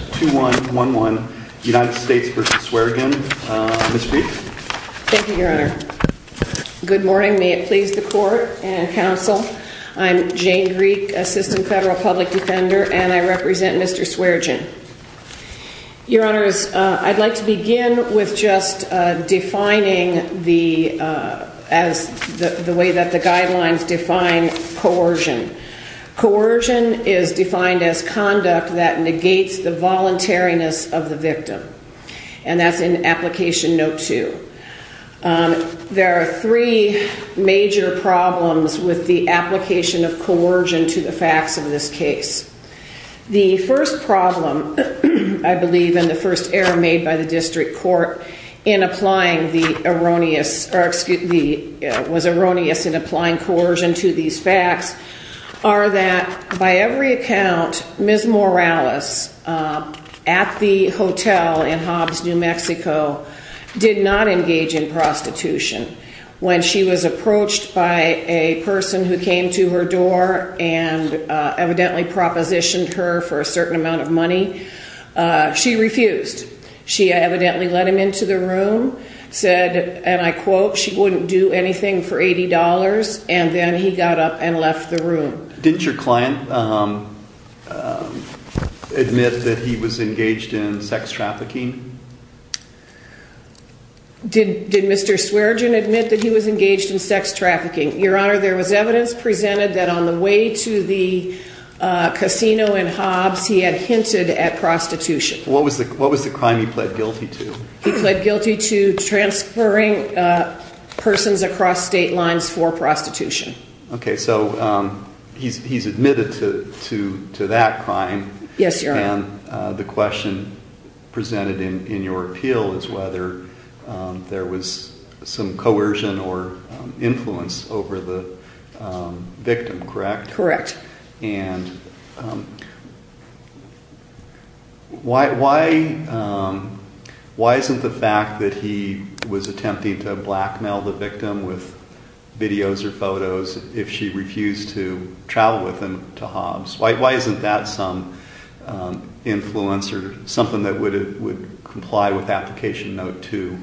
2111 United States v. Sweargin. Ms. Greek. Thank you, your honor. Good morning. May it please the court and counsel. I'm Jane Greek, assistant federal public defender, and I represent Mr. Sweargin. Your honors, I'd like to begin with just defining the as the way that the guidelines define coercion. Coercion is defined as conduct that negates the voluntariness of the victim, and that's in application note two. There are three major problems with the application of coercion to the facts of this case. The first problem, I believe, and the first error made by the district court in applying the erroneous or excuse me, was erroneous in applying coercion to these facts are that by every account, Ms. Morales at the hotel in Hobbs, New Mexico, did not engage in prostitution. When she was approached by a person who came to her door and evidently propositioned her for a certain amount of money, she refused. She evidently let him into the room, said, and I quote, she wouldn't do anything for $80, and then he got up and left the room. Didn't your client admit that he was engaged in sex trafficking? Did Mr. Sweargin admit that he was engaged in sex trafficking? Your honor, there was evidence presented that on the way to the casino in Hobbs, he had hinted at prostitution. What was the crime he pled guilty to? He pled guilty to transferring persons across state lines for prostitution. Okay, so he's admitted to that crime. Yes, your honor. And the question presented in your appeal is whether there was some coercion or influence over the victim, correct? Correct. And why isn't the fact that he was attempting to blackmail the victim with videos or photos if she refused to travel with him to Hobbs? Why isn't that some influence or something that would comply with application note two?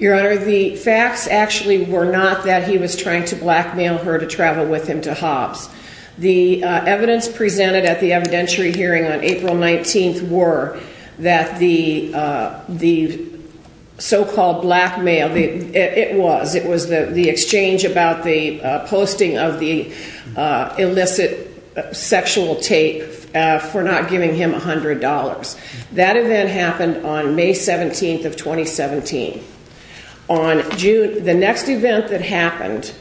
Your honor, the facts actually were not that he was trying to blackmail her to travel with him to Hobbs. The evidence presented at the evidentiary hearing on April 19th were that the so-called blackmail, it was, it was the exchange about the illicit sexual tape for not giving him $100. That event happened on May 17th of 2017. On June, the next event that happened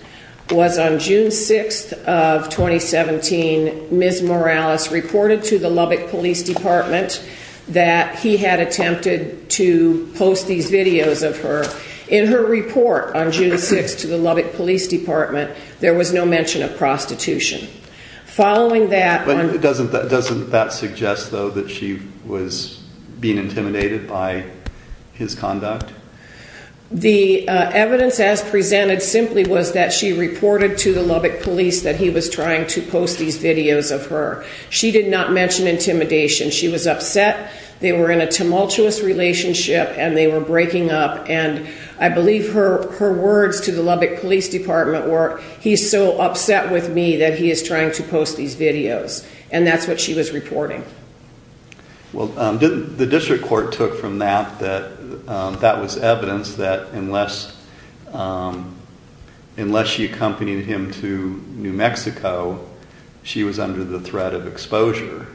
was on June 6th of 2017, Ms. Morales reported to the Lubbock Police Department that he had attempted to post these videos of her. In her report on June 6th to the prostitution. Following that... But doesn't that suggest though that she was being intimidated by his conduct? The evidence as presented simply was that she reported to the Lubbock Police that he was trying to post these videos of her. She did not mention intimidation. She was upset. They were in a tumultuous relationship and they were breaking up. And I believe her words to the Lubbock Police Department were, he's so upset with me that he is trying to post these videos. And that's what she was reporting. Well, um, didn't the district court took from that, that, um, that was evidence that unless, um, unless she accompanied him to New Mexico, she was under the threat of exposure.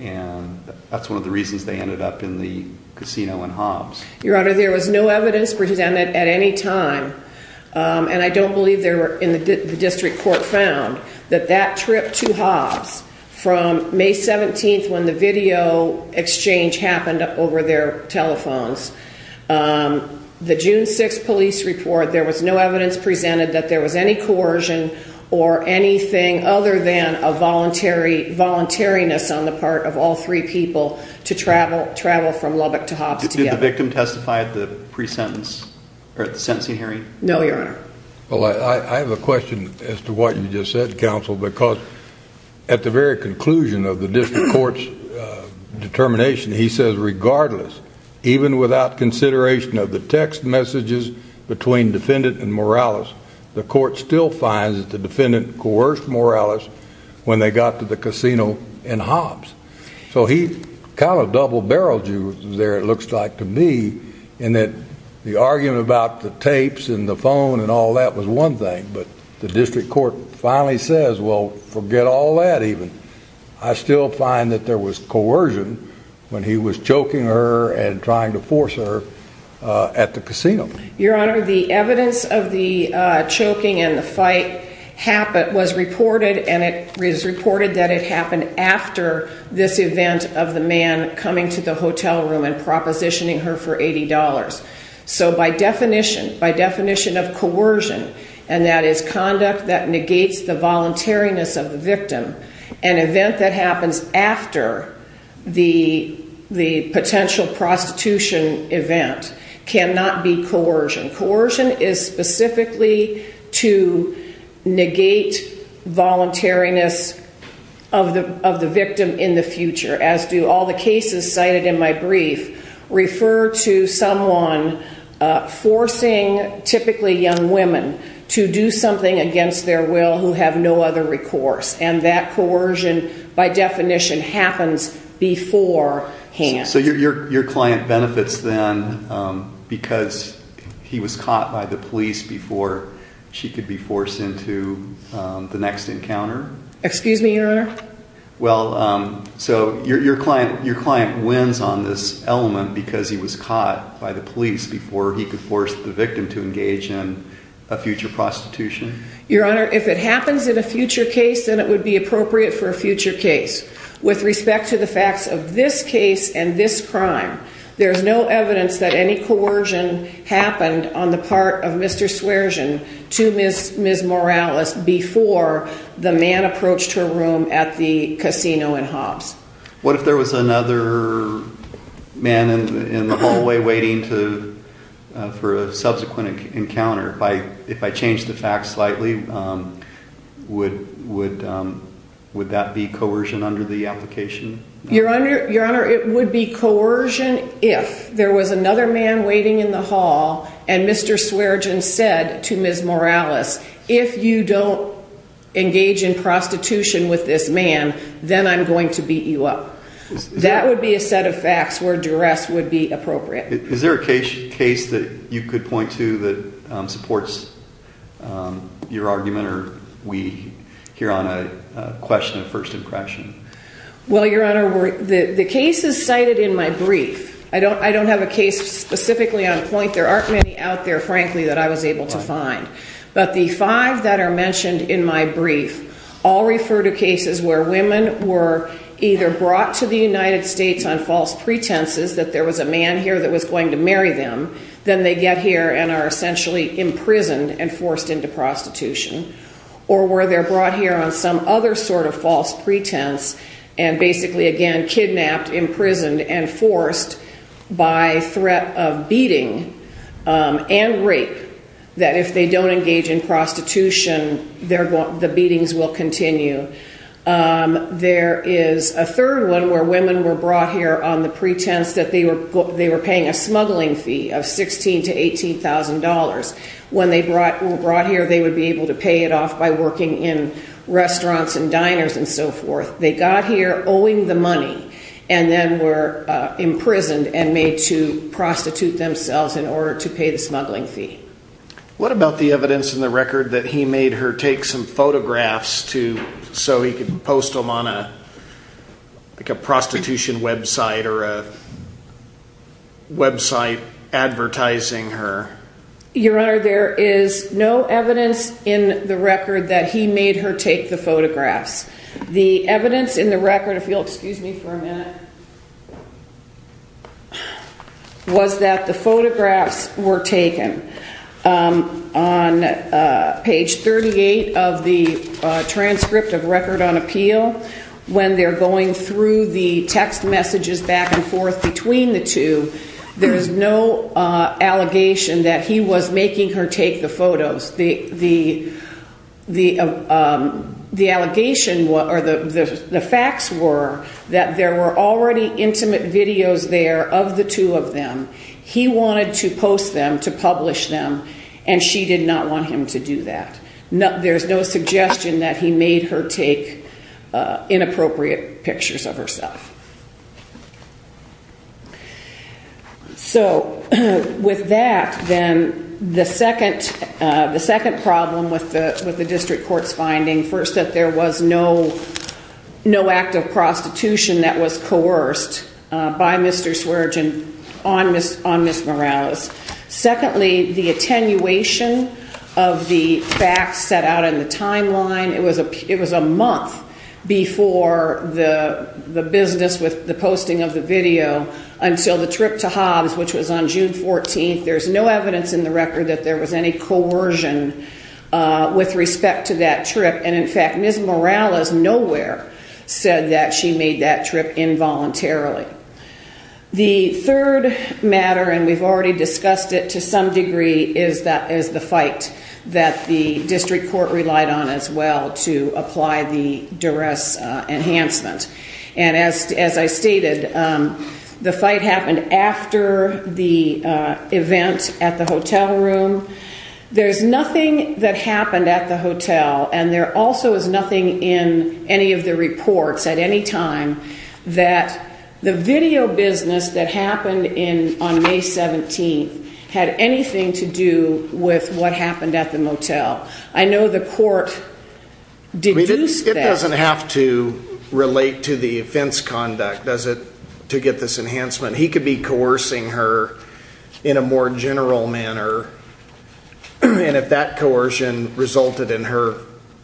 And that's one of the reasons they ended up in the casino in Hobbs. Your Honor, there was no evidence presented at any time. Um, and I don't believe there were in the district court found that that trip to Hobbs from May 17th when the video exchange happened over their telephones. Um, the June 6th police report, there was no evidence presented that there was any coercion or anything other than a voluntary voluntariness on the part of all three people to travel, travel from Lubbock to Hobbs victim testified the pre-sentence or at the sentencing hearing? No, your Honor. Well, I have a question as to what you just said, counsel, because at the very conclusion of the district court's determination, he says, regardless, even without consideration of the text messages between defendant and Morales, the court still finds that the defendant coerced Morales when they got to the casino. Your Honor, the evidence of the choking and the fight happened was reported and it is reported that it was reported that Morales was coercing Morales and positioning her for $80. So by definition, by definition of coercion, and that is conduct that negates the voluntariness of the victim and event that happens after the, the potential prostitution event cannot be coercion. Coercion is specifically to negate voluntariness of the, of the victim. I would refer to someone forcing typically young women to do something against their will who have no other recourse. And that coercion by definition happens beforehand. So your, your, your client benefits then because he was caught by the police before she could be forced into the next encounter. Excuse me, your Honor? Well, so your, your client wins on this element because he was caught by the police before he could force the victim to engage in a future prostitution? Your Honor, if it happens in a future case, then it would be appropriate for a future case. With respect to the facts of this case and this crime, there's no evidence that any coercion happened on the part of Mr. Swearegen to Ms., Ms. Hobbs. What if there was another man in the hallway waiting to, uh, for a subsequent encounter? If I, if I changed the facts slightly, um, would, would, um, would that be coercion under the application? Your Honor, your Honor, it would be coercion if there was another man waiting in the hall and Mr. Swearegen said to Ms. Morales, if you don't engage in prostitution with this man, then I'm going to beat you up. That would be a set of facts where duress would be appropriate. Is there a case, case that you could point to that, um, supports, um, your argument or we hear on a question of first impression? Well, your Honor, we're, the, the case is cited in my brief. I don't, I don't have a case specifically on point. There aren't many out there, frankly, that I was able to point to where women were either brought to the United States on false pretenses that there was a man here that was going to marry them. Then they get here and are essentially imprisoned and forced into prostitution or where they're brought here on some other sort of false pretense and basically, again, kidnapped, imprisoned and forced by threat of beating, um, and rape that if they don't engage in prostitution. Um, there is a third one where women were brought here on the pretense that they were, they were paying a smuggling fee of $16,000-$18,000. When they brought, were brought here, they would be able to pay it off by working in restaurants and diners and so forth. They got here owing the money and then were, uh, imprisoned and made to prostitute themselves in order to pay the smuggling fee. What about the evidence in the record that he made her take some photographs to, so he could post them on a, like a prostitution website or a website advertising her? Your Honor, there is no evidence in the record that he made her take the photographs. The evidence in the record, if you'll excuse me for a minute, was that the photographs were taken. Um, on, uh, page 38 of the, uh, transcript of Record on Appeal, when they're going through the text messages back and forth between the two, there's no, uh, allegation that he was making her take the photos. The, the, the, um, the allegation, or the, the facts were that there were already intimate videos there of the two of them. He wanted to post them, to publish them, and she did not want him to do that. No, there's no suggestion that he made her take, uh, inappropriate pictures of herself. So, with that, then, the second, uh, the second problem with the, with the district court's finding, first, that there was no, no act of, uh, by Mr. Swerdjian on Ms., on Ms. Morales. Secondly, the attenuation of the facts set out in the timeline, it was a, it was a month before the, the business with the posting of the video until the trip to Hobbs, which was on June 14th, there's no evidence in the record that there was any coercion, uh, with respect to that trip, and, in fact, Ms. Morales nowhere said that she made that trip involuntarily. The third matter, and we've already discussed it to some degree, is that, is the fight that the district court relied on as well to apply the duress, uh, enhancement. And as, as I stated, um, the fight happened after the, uh, event at the hotel room. There's nothing that happened at the hotel, and there also is nothing in any of the reports at any time that the video business that happened in, on May 17th had anything to do with what happened at the motel. I know the court deduced that. He doesn't have to relate to the offense conduct, does it, to get this enhancement? He could be coercing her in a more general manner. And if that coercion resulted in her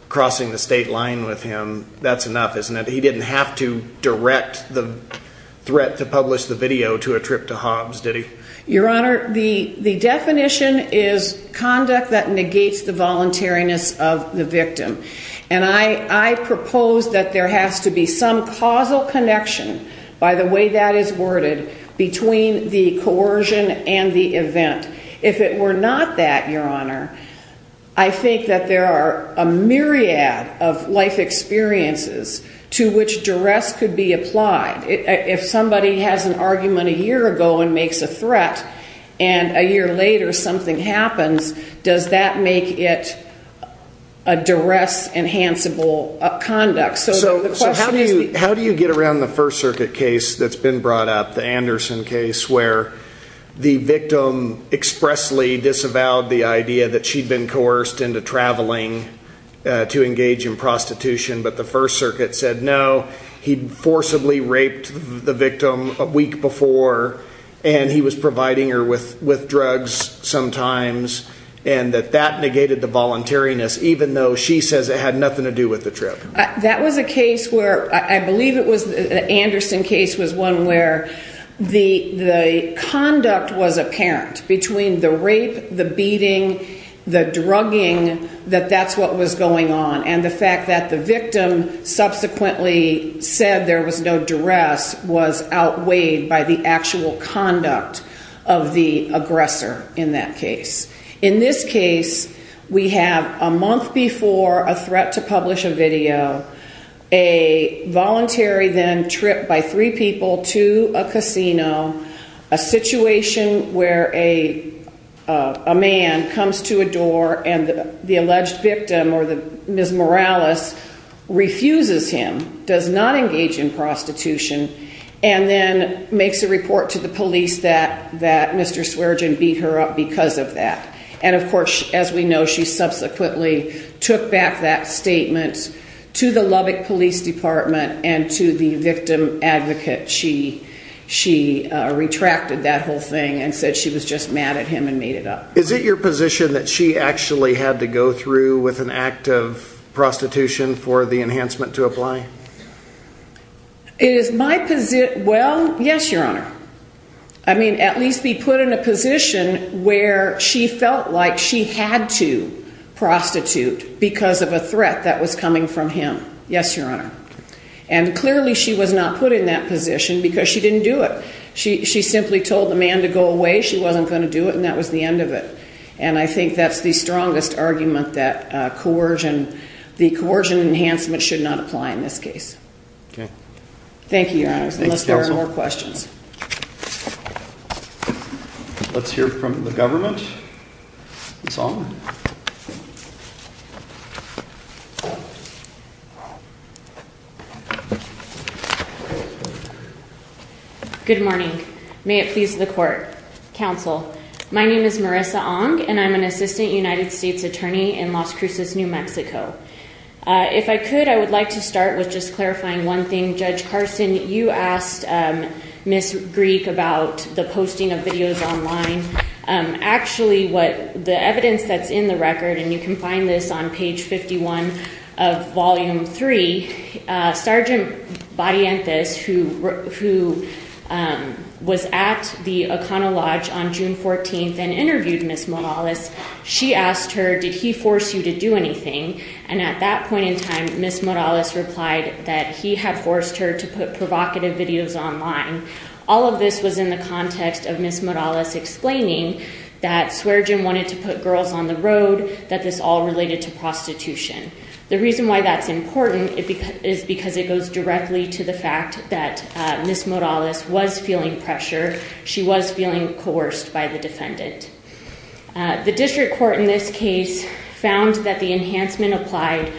crossing the state line with him, that's enough, isn't it? He didn't have to direct the threat to publish the video to a trip to Hobbs, did he? Your Honor, the, the definition is conduct that negates the voluntariness of the victim. And I, I propose that there has to be some causal connection, by the way that is worded, between the coercion and the event. If it were not that, Your Honor, I think that there are a myriad of life experiences to which duress could be applied. If somebody has an argument a year ago and makes a threat, and a year later something happens, does that make it a duress-enhanceable conduct? How do you get around the First Circuit case that's been brought up, the Anderson case, where the victim expressly disavowed the idea that she'd been coerced into traveling to engage in prostitution, but the First Circuit said no, he'd forcibly raped the victim a week before, and he was providing her with drugs sometimes, and that that negated the voluntariness, even though she says it had nothing to do with the trip? That was a case where, I believe it was, the Anderson case was one where the, the conduct was apparent between the rape, the beating, the drugging, that that's what was going on, and the fact that the victim subsequently said there was no duress was outweighed by the actual conduct of the aggressor in that case. In this case, we have a month before a threat to publish a video, a voluntary then trip by three people to a casino, a situation where a man comes to a door and the alleged victim, or the Ms. Morales, refuses him, does not engage in prostitution, and then makes a report to the police that Mr. Swerdjian beat her up because of that. And of course, as we know, she subsequently took back that statement to the Lubbock Police Department and to the victim advocate. She, she retracted that whole thing and said she was just mad at him and made it up. Is it your position that she actually had to go through with an act of prostitution for the enhancement to apply? Is my position, well, yes, Your Honor. I mean, at least be put in a position where she felt like she had to prostitute because of a threat that was coming from him. Yes, Your Honor. And clearly she was not put in that position because she didn't do it. She, she simply told the man to go away. She wasn't going to do it. And that was the end of it. And I think that's the strongest argument that coercion, the coercion enhancement should not apply in this case. Okay. Thank you, Your Honor. Thank you, Counsel. Unless there are no more questions. Let's hear from the government. Good morning. May it please the Court. Counsel, my name is Marissa Ong, and I'm an assistant United States attorney in Las Cruces, New Mexico. If I could, I would like to start with just clarifying one thing. Judge Carson, you asked Ms. Greek about the posting of videos online. Actually, what the evidence that's in the record, and you can find this on page 51 of Volume 3, Sergeant Barrientos, who was at the O'Connell Lodge on June 14th and interviewed Ms. Morales, she asked her, did he force you to do anything? And at that point in time, Ms. Morales replied that he had forced her to put provocative videos online. All of this was in the context of Ms. Morales explaining that Swearengen wanted to put girls on the road, that this all related to prostitution. The reason why that's important is because it goes directly to the fact that Ms. Morales was feeling pressure. She was feeling coerced by the defendant. The district court in this case found that the enhancement applied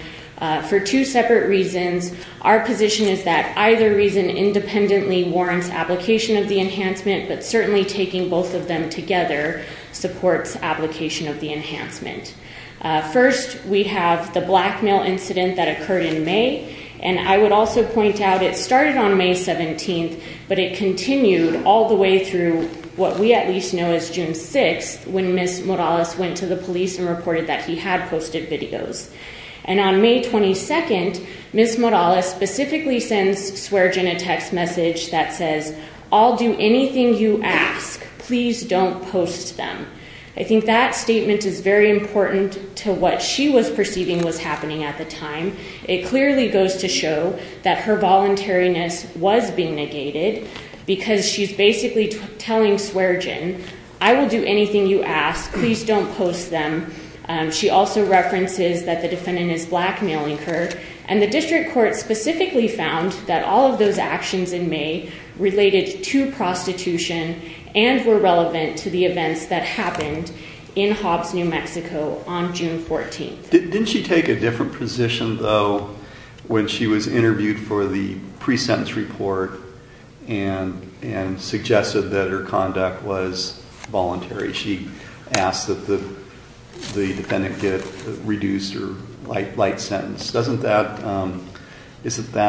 for two separate reasons. Our position is that either reason independently warrants application of the enhancement, but certainly taking both of them together supports application of the enhancement. First, we have the blackmail incident that occurred in May, and I would also point out it started on May 17th, but it continued all the way through what we at least know as June 6th, when Ms. Morales went to the police and reported that he had posted videos. And on May 22nd, Ms. Morales specifically sends Swearengen a text message that says, I'll do anything you ask. Please don't post them. I think that statement is very important to what she was perceiving was happening at the time. It clearly goes to show that her voluntariness was being negated because she's basically telling Swearengen, I will do anything you ask. Please don't post them. She also references that the defendant is blackmailing her, and the district court specifically found that all of those actions in May related to prostitution and were relevant to the events that happened in Hobbs, New Mexico on June 14th. Didn't she take a different position, though, when she was interviewed for the pre-sentence report and suggested that her conduct was voluntary? She asked that the defendant get a reduced or light sentence. Isn't that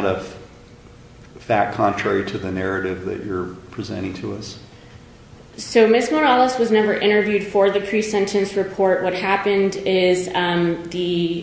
a fact contrary to the narrative that you're presenting to us? So Ms. Morales was never interviewed for the pre-sentence report. What happened is the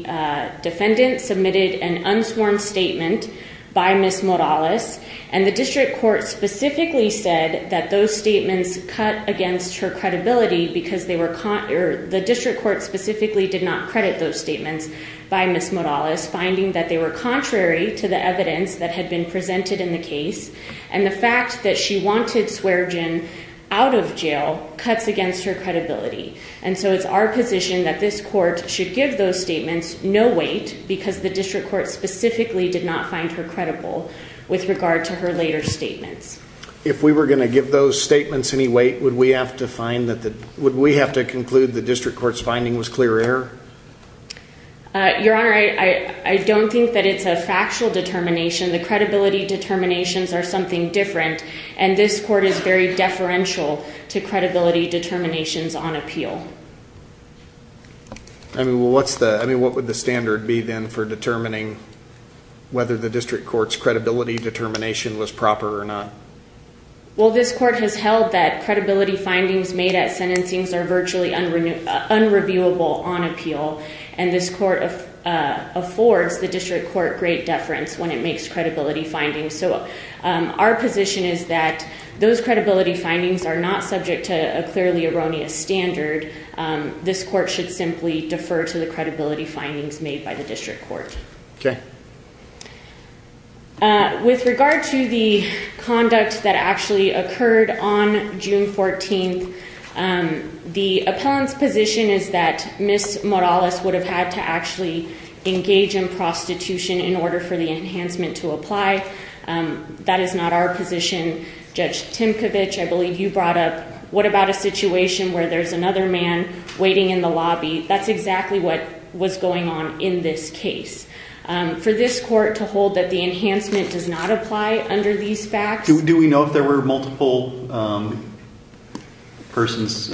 defendant submitted an unsworn statement by Ms. Morales, and the district court specifically said that those statements cut against her credibility because the district court specifically did not credit those statements by Ms. Morales, finding that they were contrary to the evidence that had been presented in the case, and the fact that she wanted Swearengen out of jail cuts against her credibility. And so it's our position that this court should give those statements no weight because the district court specifically did not find her credible with regard to her later statements. If we were going to give those statements any weight, would we have to conclude the district court's finding was clear error? Your Honor, I don't think that it's a factual determination. The credibility determinations are something different, and this court is very deferential to credibility determinations on appeal. I mean, what would the standard be then for determining whether the district court's credibility determination was proper or not? Well, this court has held that credibility findings made at sentencing are virtually unreviewable on appeal, and this court affords the district court great deference when it makes credibility findings. So our position is that those credibility findings are not subject to a clearly erroneous standard. This court should simply defer to the credibility findings made by the district court. Okay. With regard to the conduct that actually occurred on June 14th, the appellant's position is that Ms. Morales would have had to actually engage in prostitution in order for the enhancement to apply. That is not our position. Judge Timkovich, I believe you brought up, what about a situation where there's another man waiting in the lobby? That's exactly what was going on in this case. For this court to hold that the enhancement does not apply under these facts? Do we know if there were multiple persons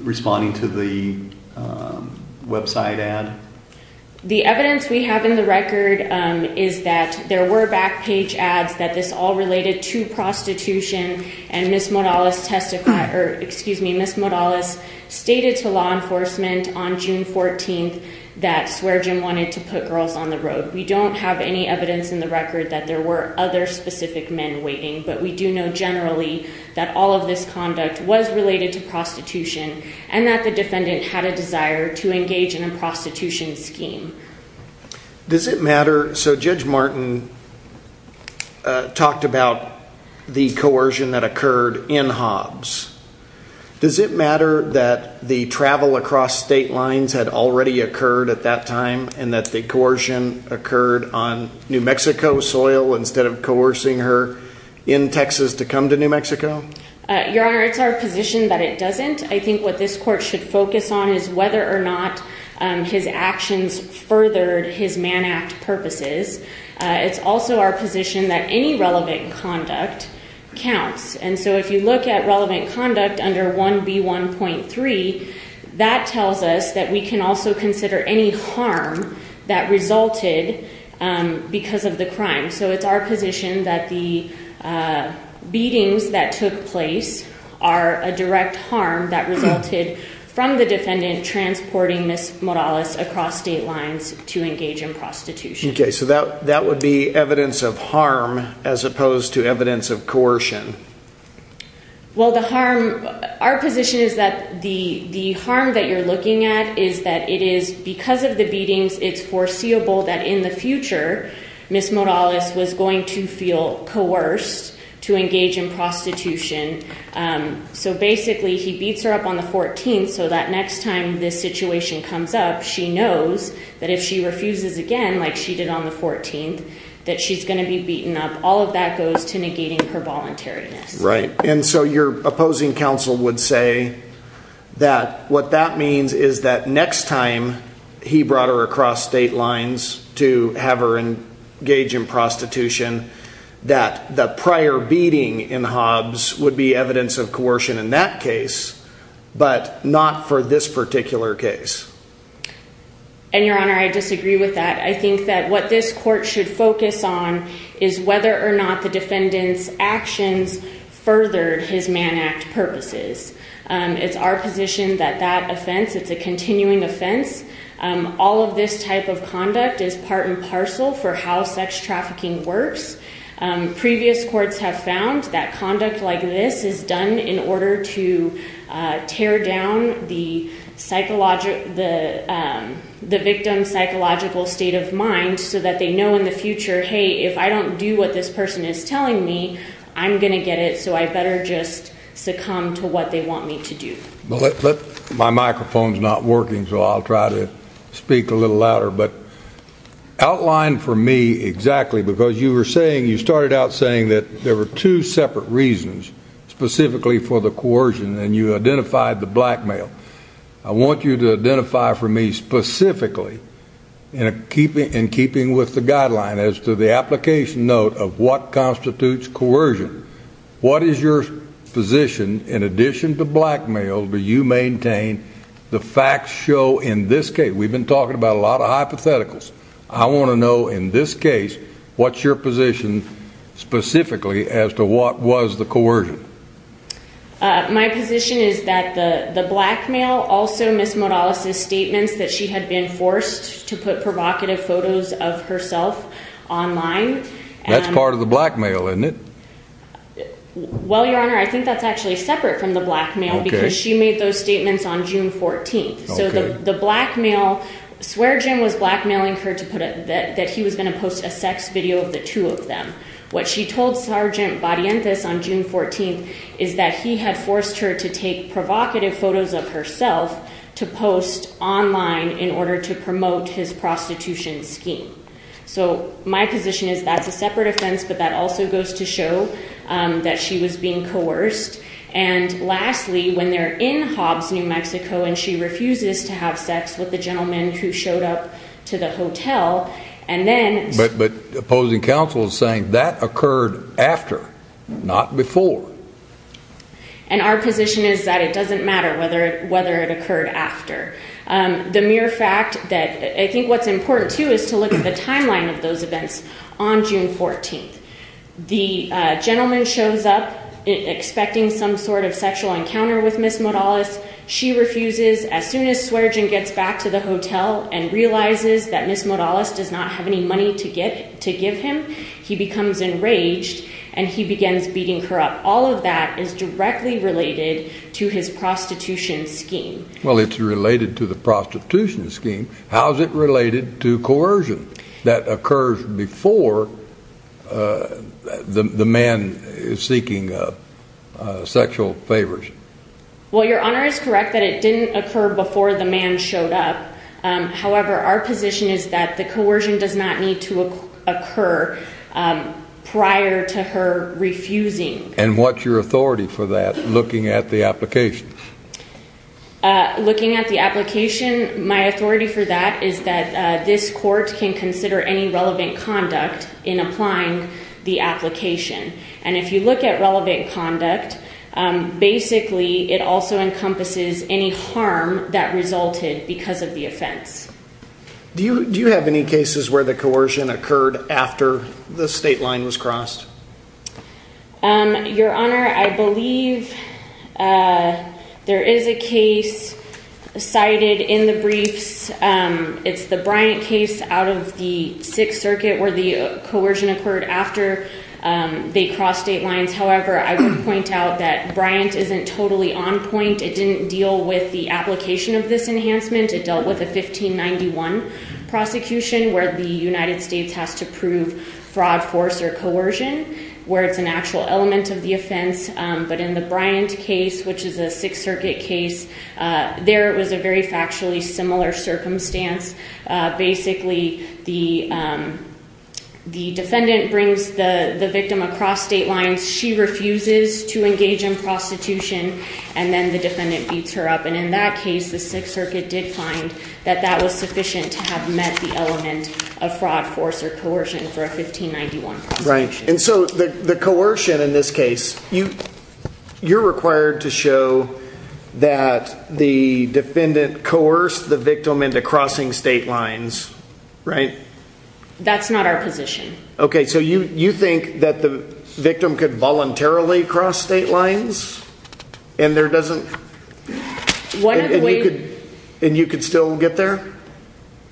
responding to the website ad? The evidence we have in the record is that there were back page ads that this all related to prostitution, and Ms. Morales stated to law enforcement on June 14th that Swearengin wanted to put girls on the road. We don't have any evidence in the record that there were other specific men waiting, but we do know generally that all of this conduct was related to prostitution and that the defendant had a desire to engage in a prostitution scheme. Does it matter, so Judge Martin talked about the coercion that occurred in Hobbs. Does it matter that the travel across state lines had already occurred at that time and that the coercion occurred on New Mexico soil instead of coercing her in Texas to come to New Mexico? Your Honor, it's our position that it doesn't. I think what this court should focus on is whether or not his actions furthered his man act purposes. It's also our position that any relevant conduct counts, and so if you look at relevant conduct under 1B1.3, that tells us that we can also consider any harm that resulted because of the crime. So it's our position that the beatings that took place are a direct harm that resulted from the defendant transporting Ms. Morales across state lines to engage in prostitution. Okay, so that would be evidence of harm as opposed to evidence of coercion. Well, the harm, our position is that the harm that you're looking at is that it is because of the beatings, it's foreseeable that in the future, Ms. Morales was going to feel coerced to engage in prostitution. So basically, he beats her up on the 14th so that next time this situation comes up, she knows that if she refuses again, like she did on the 14th, that she's going to be beaten up. All of that goes to negating her voluntariness. Right, and so your opposing counsel would say that what that means is that next time he brought her across state lines to have her engage in prostitution, that the prior beating in Hobbs would be evidence of coercion in that case, but not for this particular case. And, Your Honor, I disagree with that. I think that what this court should focus on is whether or not the defendant's actions furthered his Mann Act purposes. It's our position that that offense, it's a continuing offense. All of this type of conduct is part and parcel for how sex trafficking works. Previous courts have found that conduct like this is done in order to tear down the victim's psychological state of mind so that they know in the future, hey, if I don't do what this person is telling me, I'm going to get it, so I better just succumb to what they want me to do. My microphone's not working, so I'll try to speak a little louder. But outline for me exactly, because you were saying, you started out saying that there were two separate reasons specifically for the coercion, and you identified the blackmail. I want you to identify for me specifically, in keeping with the guideline, as to the application note of what constitutes coercion. What is your position? In addition to blackmail, do you maintain the facts show in this case? We've been talking about a lot of hypotheticals. I want to know, in this case, what's your position specifically as to what was the coercion? My position is that the blackmail, also Ms. Modales' statements that she had been forced to put provocative photos of herself online. That's part of the blackmail, isn't it? Well, Your Honor, I think that's actually separate from the blackmail because she made those statements on June 14th. So the blackmail, Swearegen was blackmailing her that he was going to post a sex video of the two of them. What she told Sergeant Barrientos on June 14th is that he had forced her to take provocative photos of herself to post online in order to promote his prostitution scheme. So my position is that's a separate offense, but that also goes to show that she was being coerced. And lastly, when they're in Hobbs, New Mexico, and she refuses to have sex with the gentleman who showed up to the hotel, and then – But opposing counsel is saying that occurred after, not before. And our position is that it doesn't matter whether it occurred after. The mere fact that – I think what's important, too, is to look at the timeline of those events on June 14th. The gentleman shows up expecting some sort of sexual encounter with Ms. Modales. She refuses. As soon as Swearegen gets back to the hotel and realizes that Ms. Modales does not have any money to give him, he becomes enraged and he begins beating her up. All of that is directly related to his prostitution scheme. Well, it's related to the prostitution scheme. How is it related to coercion that occurs before the man is seeking sexual favors? Well, Your Honor, it's correct that it didn't occur before the man showed up. However, our position is that the coercion does not need to occur prior to her refusing. And what's your authority for that, looking at the application? Looking at the application, my authority for that is that this court can consider any relevant conduct in applying the application. And if you look at relevant conduct, basically it also encompasses any harm that resulted because of the offense. Do you have any cases where the coercion occurred after the state line was crossed? Your Honor, I believe there is a case cited in the briefs. It's the Bryant case out of the Sixth Circuit where the coercion occurred after they crossed state lines. However, I would point out that Bryant isn't totally on point. It didn't deal with the application of this enhancement. It dealt with a 1591 prosecution where the United States has to prove fraud, force, or coercion, where it's an actual element of the offense. But in the Bryant case, which is a Sixth Circuit case, there it was a very factually similar circumstance. Basically, the defendant brings the victim across state lines. She refuses to engage in prostitution. And then the defendant beats her up. And in that case, the Sixth Circuit did find that that was sufficient to have met the element of fraud, force, or coercion for a 1591 prosecution. And so the coercion in this case, you're required to show that the defendant coerced the victim into crossing state lines, right? That's not our position. Okay, so you think that the victim could voluntarily cross state lines and you could still get there?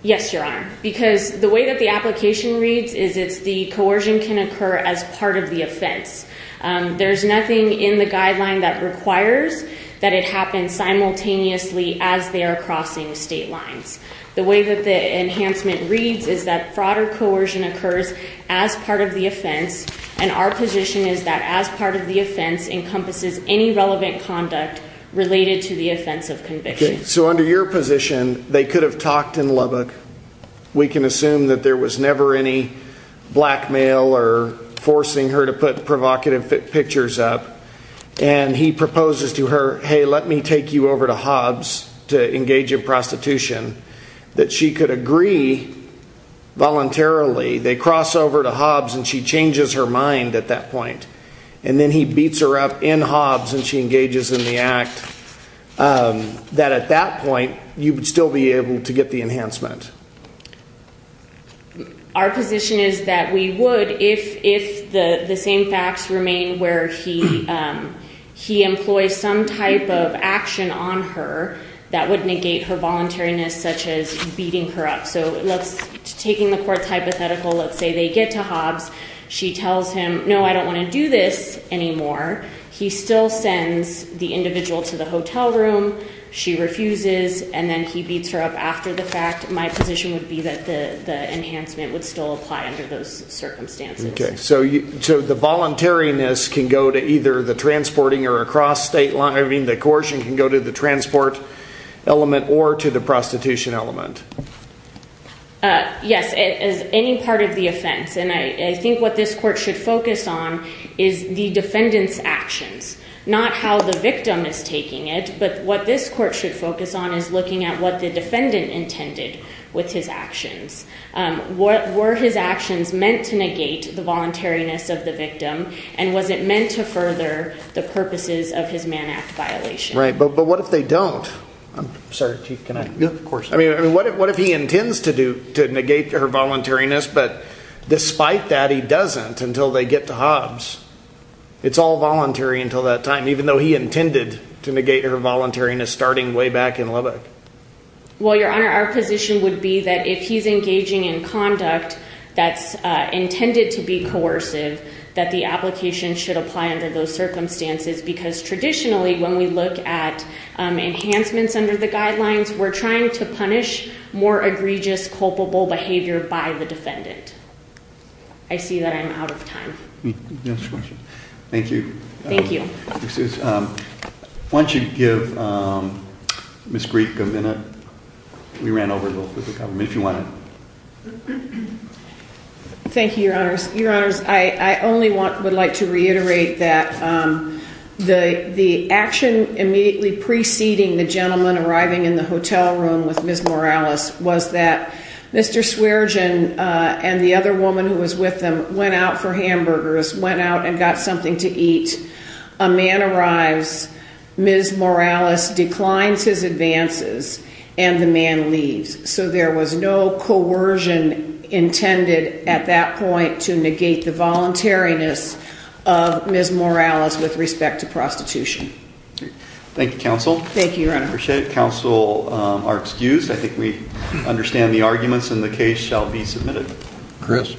Yes, Your Honor, because the way that the application reads is it's the coercion can occur as part of the offense. There's nothing in the guideline that requires that it happen simultaneously as they are crossing state lines. The way that the enhancement reads is that fraud or coercion occurs as part of the offense. And our position is that as part of the offense encompasses any relevant conduct related to the offense of conviction. So under your position, they could have talked in Lubbock. We can assume that there was never any blackmail or forcing her to put provocative pictures up. And he proposes to her, hey, let me take you over to Hobbs to engage in prostitution, that she could agree voluntarily. They cross over to Hobbs and she changes her mind at that point. And then he beats her up in Hobbs and she engages in the act. That at that point, you would still be able to get the enhancement. Our position is that we would if the same facts remain where he employs some type of action on her that would negate her voluntariness such as beating her up. So taking the court's hypothetical, let's say they get to Hobbs. She tells him, no, I don't want to do this anymore. He still sends the individual to the hotel room. She refuses. And then he beats her up after the fact. My position would be that the enhancement would still apply under those circumstances. So the voluntariness can go to either the transporting or across state line. I mean, the coercion can go to the transport element or to the prostitution element. Yes, as any part of the offense. And I think what this court should focus on is the defendant's actions, not how the victim is taking it. But what this court should focus on is looking at what the defendant intended with his actions. Were his actions meant to negate the voluntariness of the victim? And was it meant to further the purposes of his Man Act violation? Right, but what if they don't? I'm sorry, Chief, can I? Yeah, of course. I mean, what if he intends to negate her voluntariness, but despite that, he doesn't until they get to Hobbs? It's all voluntary until that time, even though he intended to negate her voluntariness starting way back in Lubbock. Well, Your Honor, our position would be that if he's engaging in conduct that's intended to be coercive, that the application should apply under those circumstances. Because traditionally, when we look at enhancements under the guidelines, we're trying to punish more egregious, culpable behavior by the defendant. I see that I'm out of time. Thank you. Thank you. Why don't you give Ms. Greek a minute? We ran over a little bit. If you want to. Thank you, Your Honors. Your Honors, I only would like to reiterate that the action immediately preceding the gentleman arriving in the hotel room with Ms. Morales was that Mr. Swearegen and the other woman who was with him went out for hamburgers, went out and got something to eat. A man arrives, Ms. Morales declines his advances, and the man leaves. So there was no coercion intended at that point to negate the voluntariness of Ms. Morales with respect to prostitution. Thank you, counsel. Thank you, Your Honor. I appreciate it. Counsel are excused. I think we understand the arguments, and the case shall be submitted. Chris.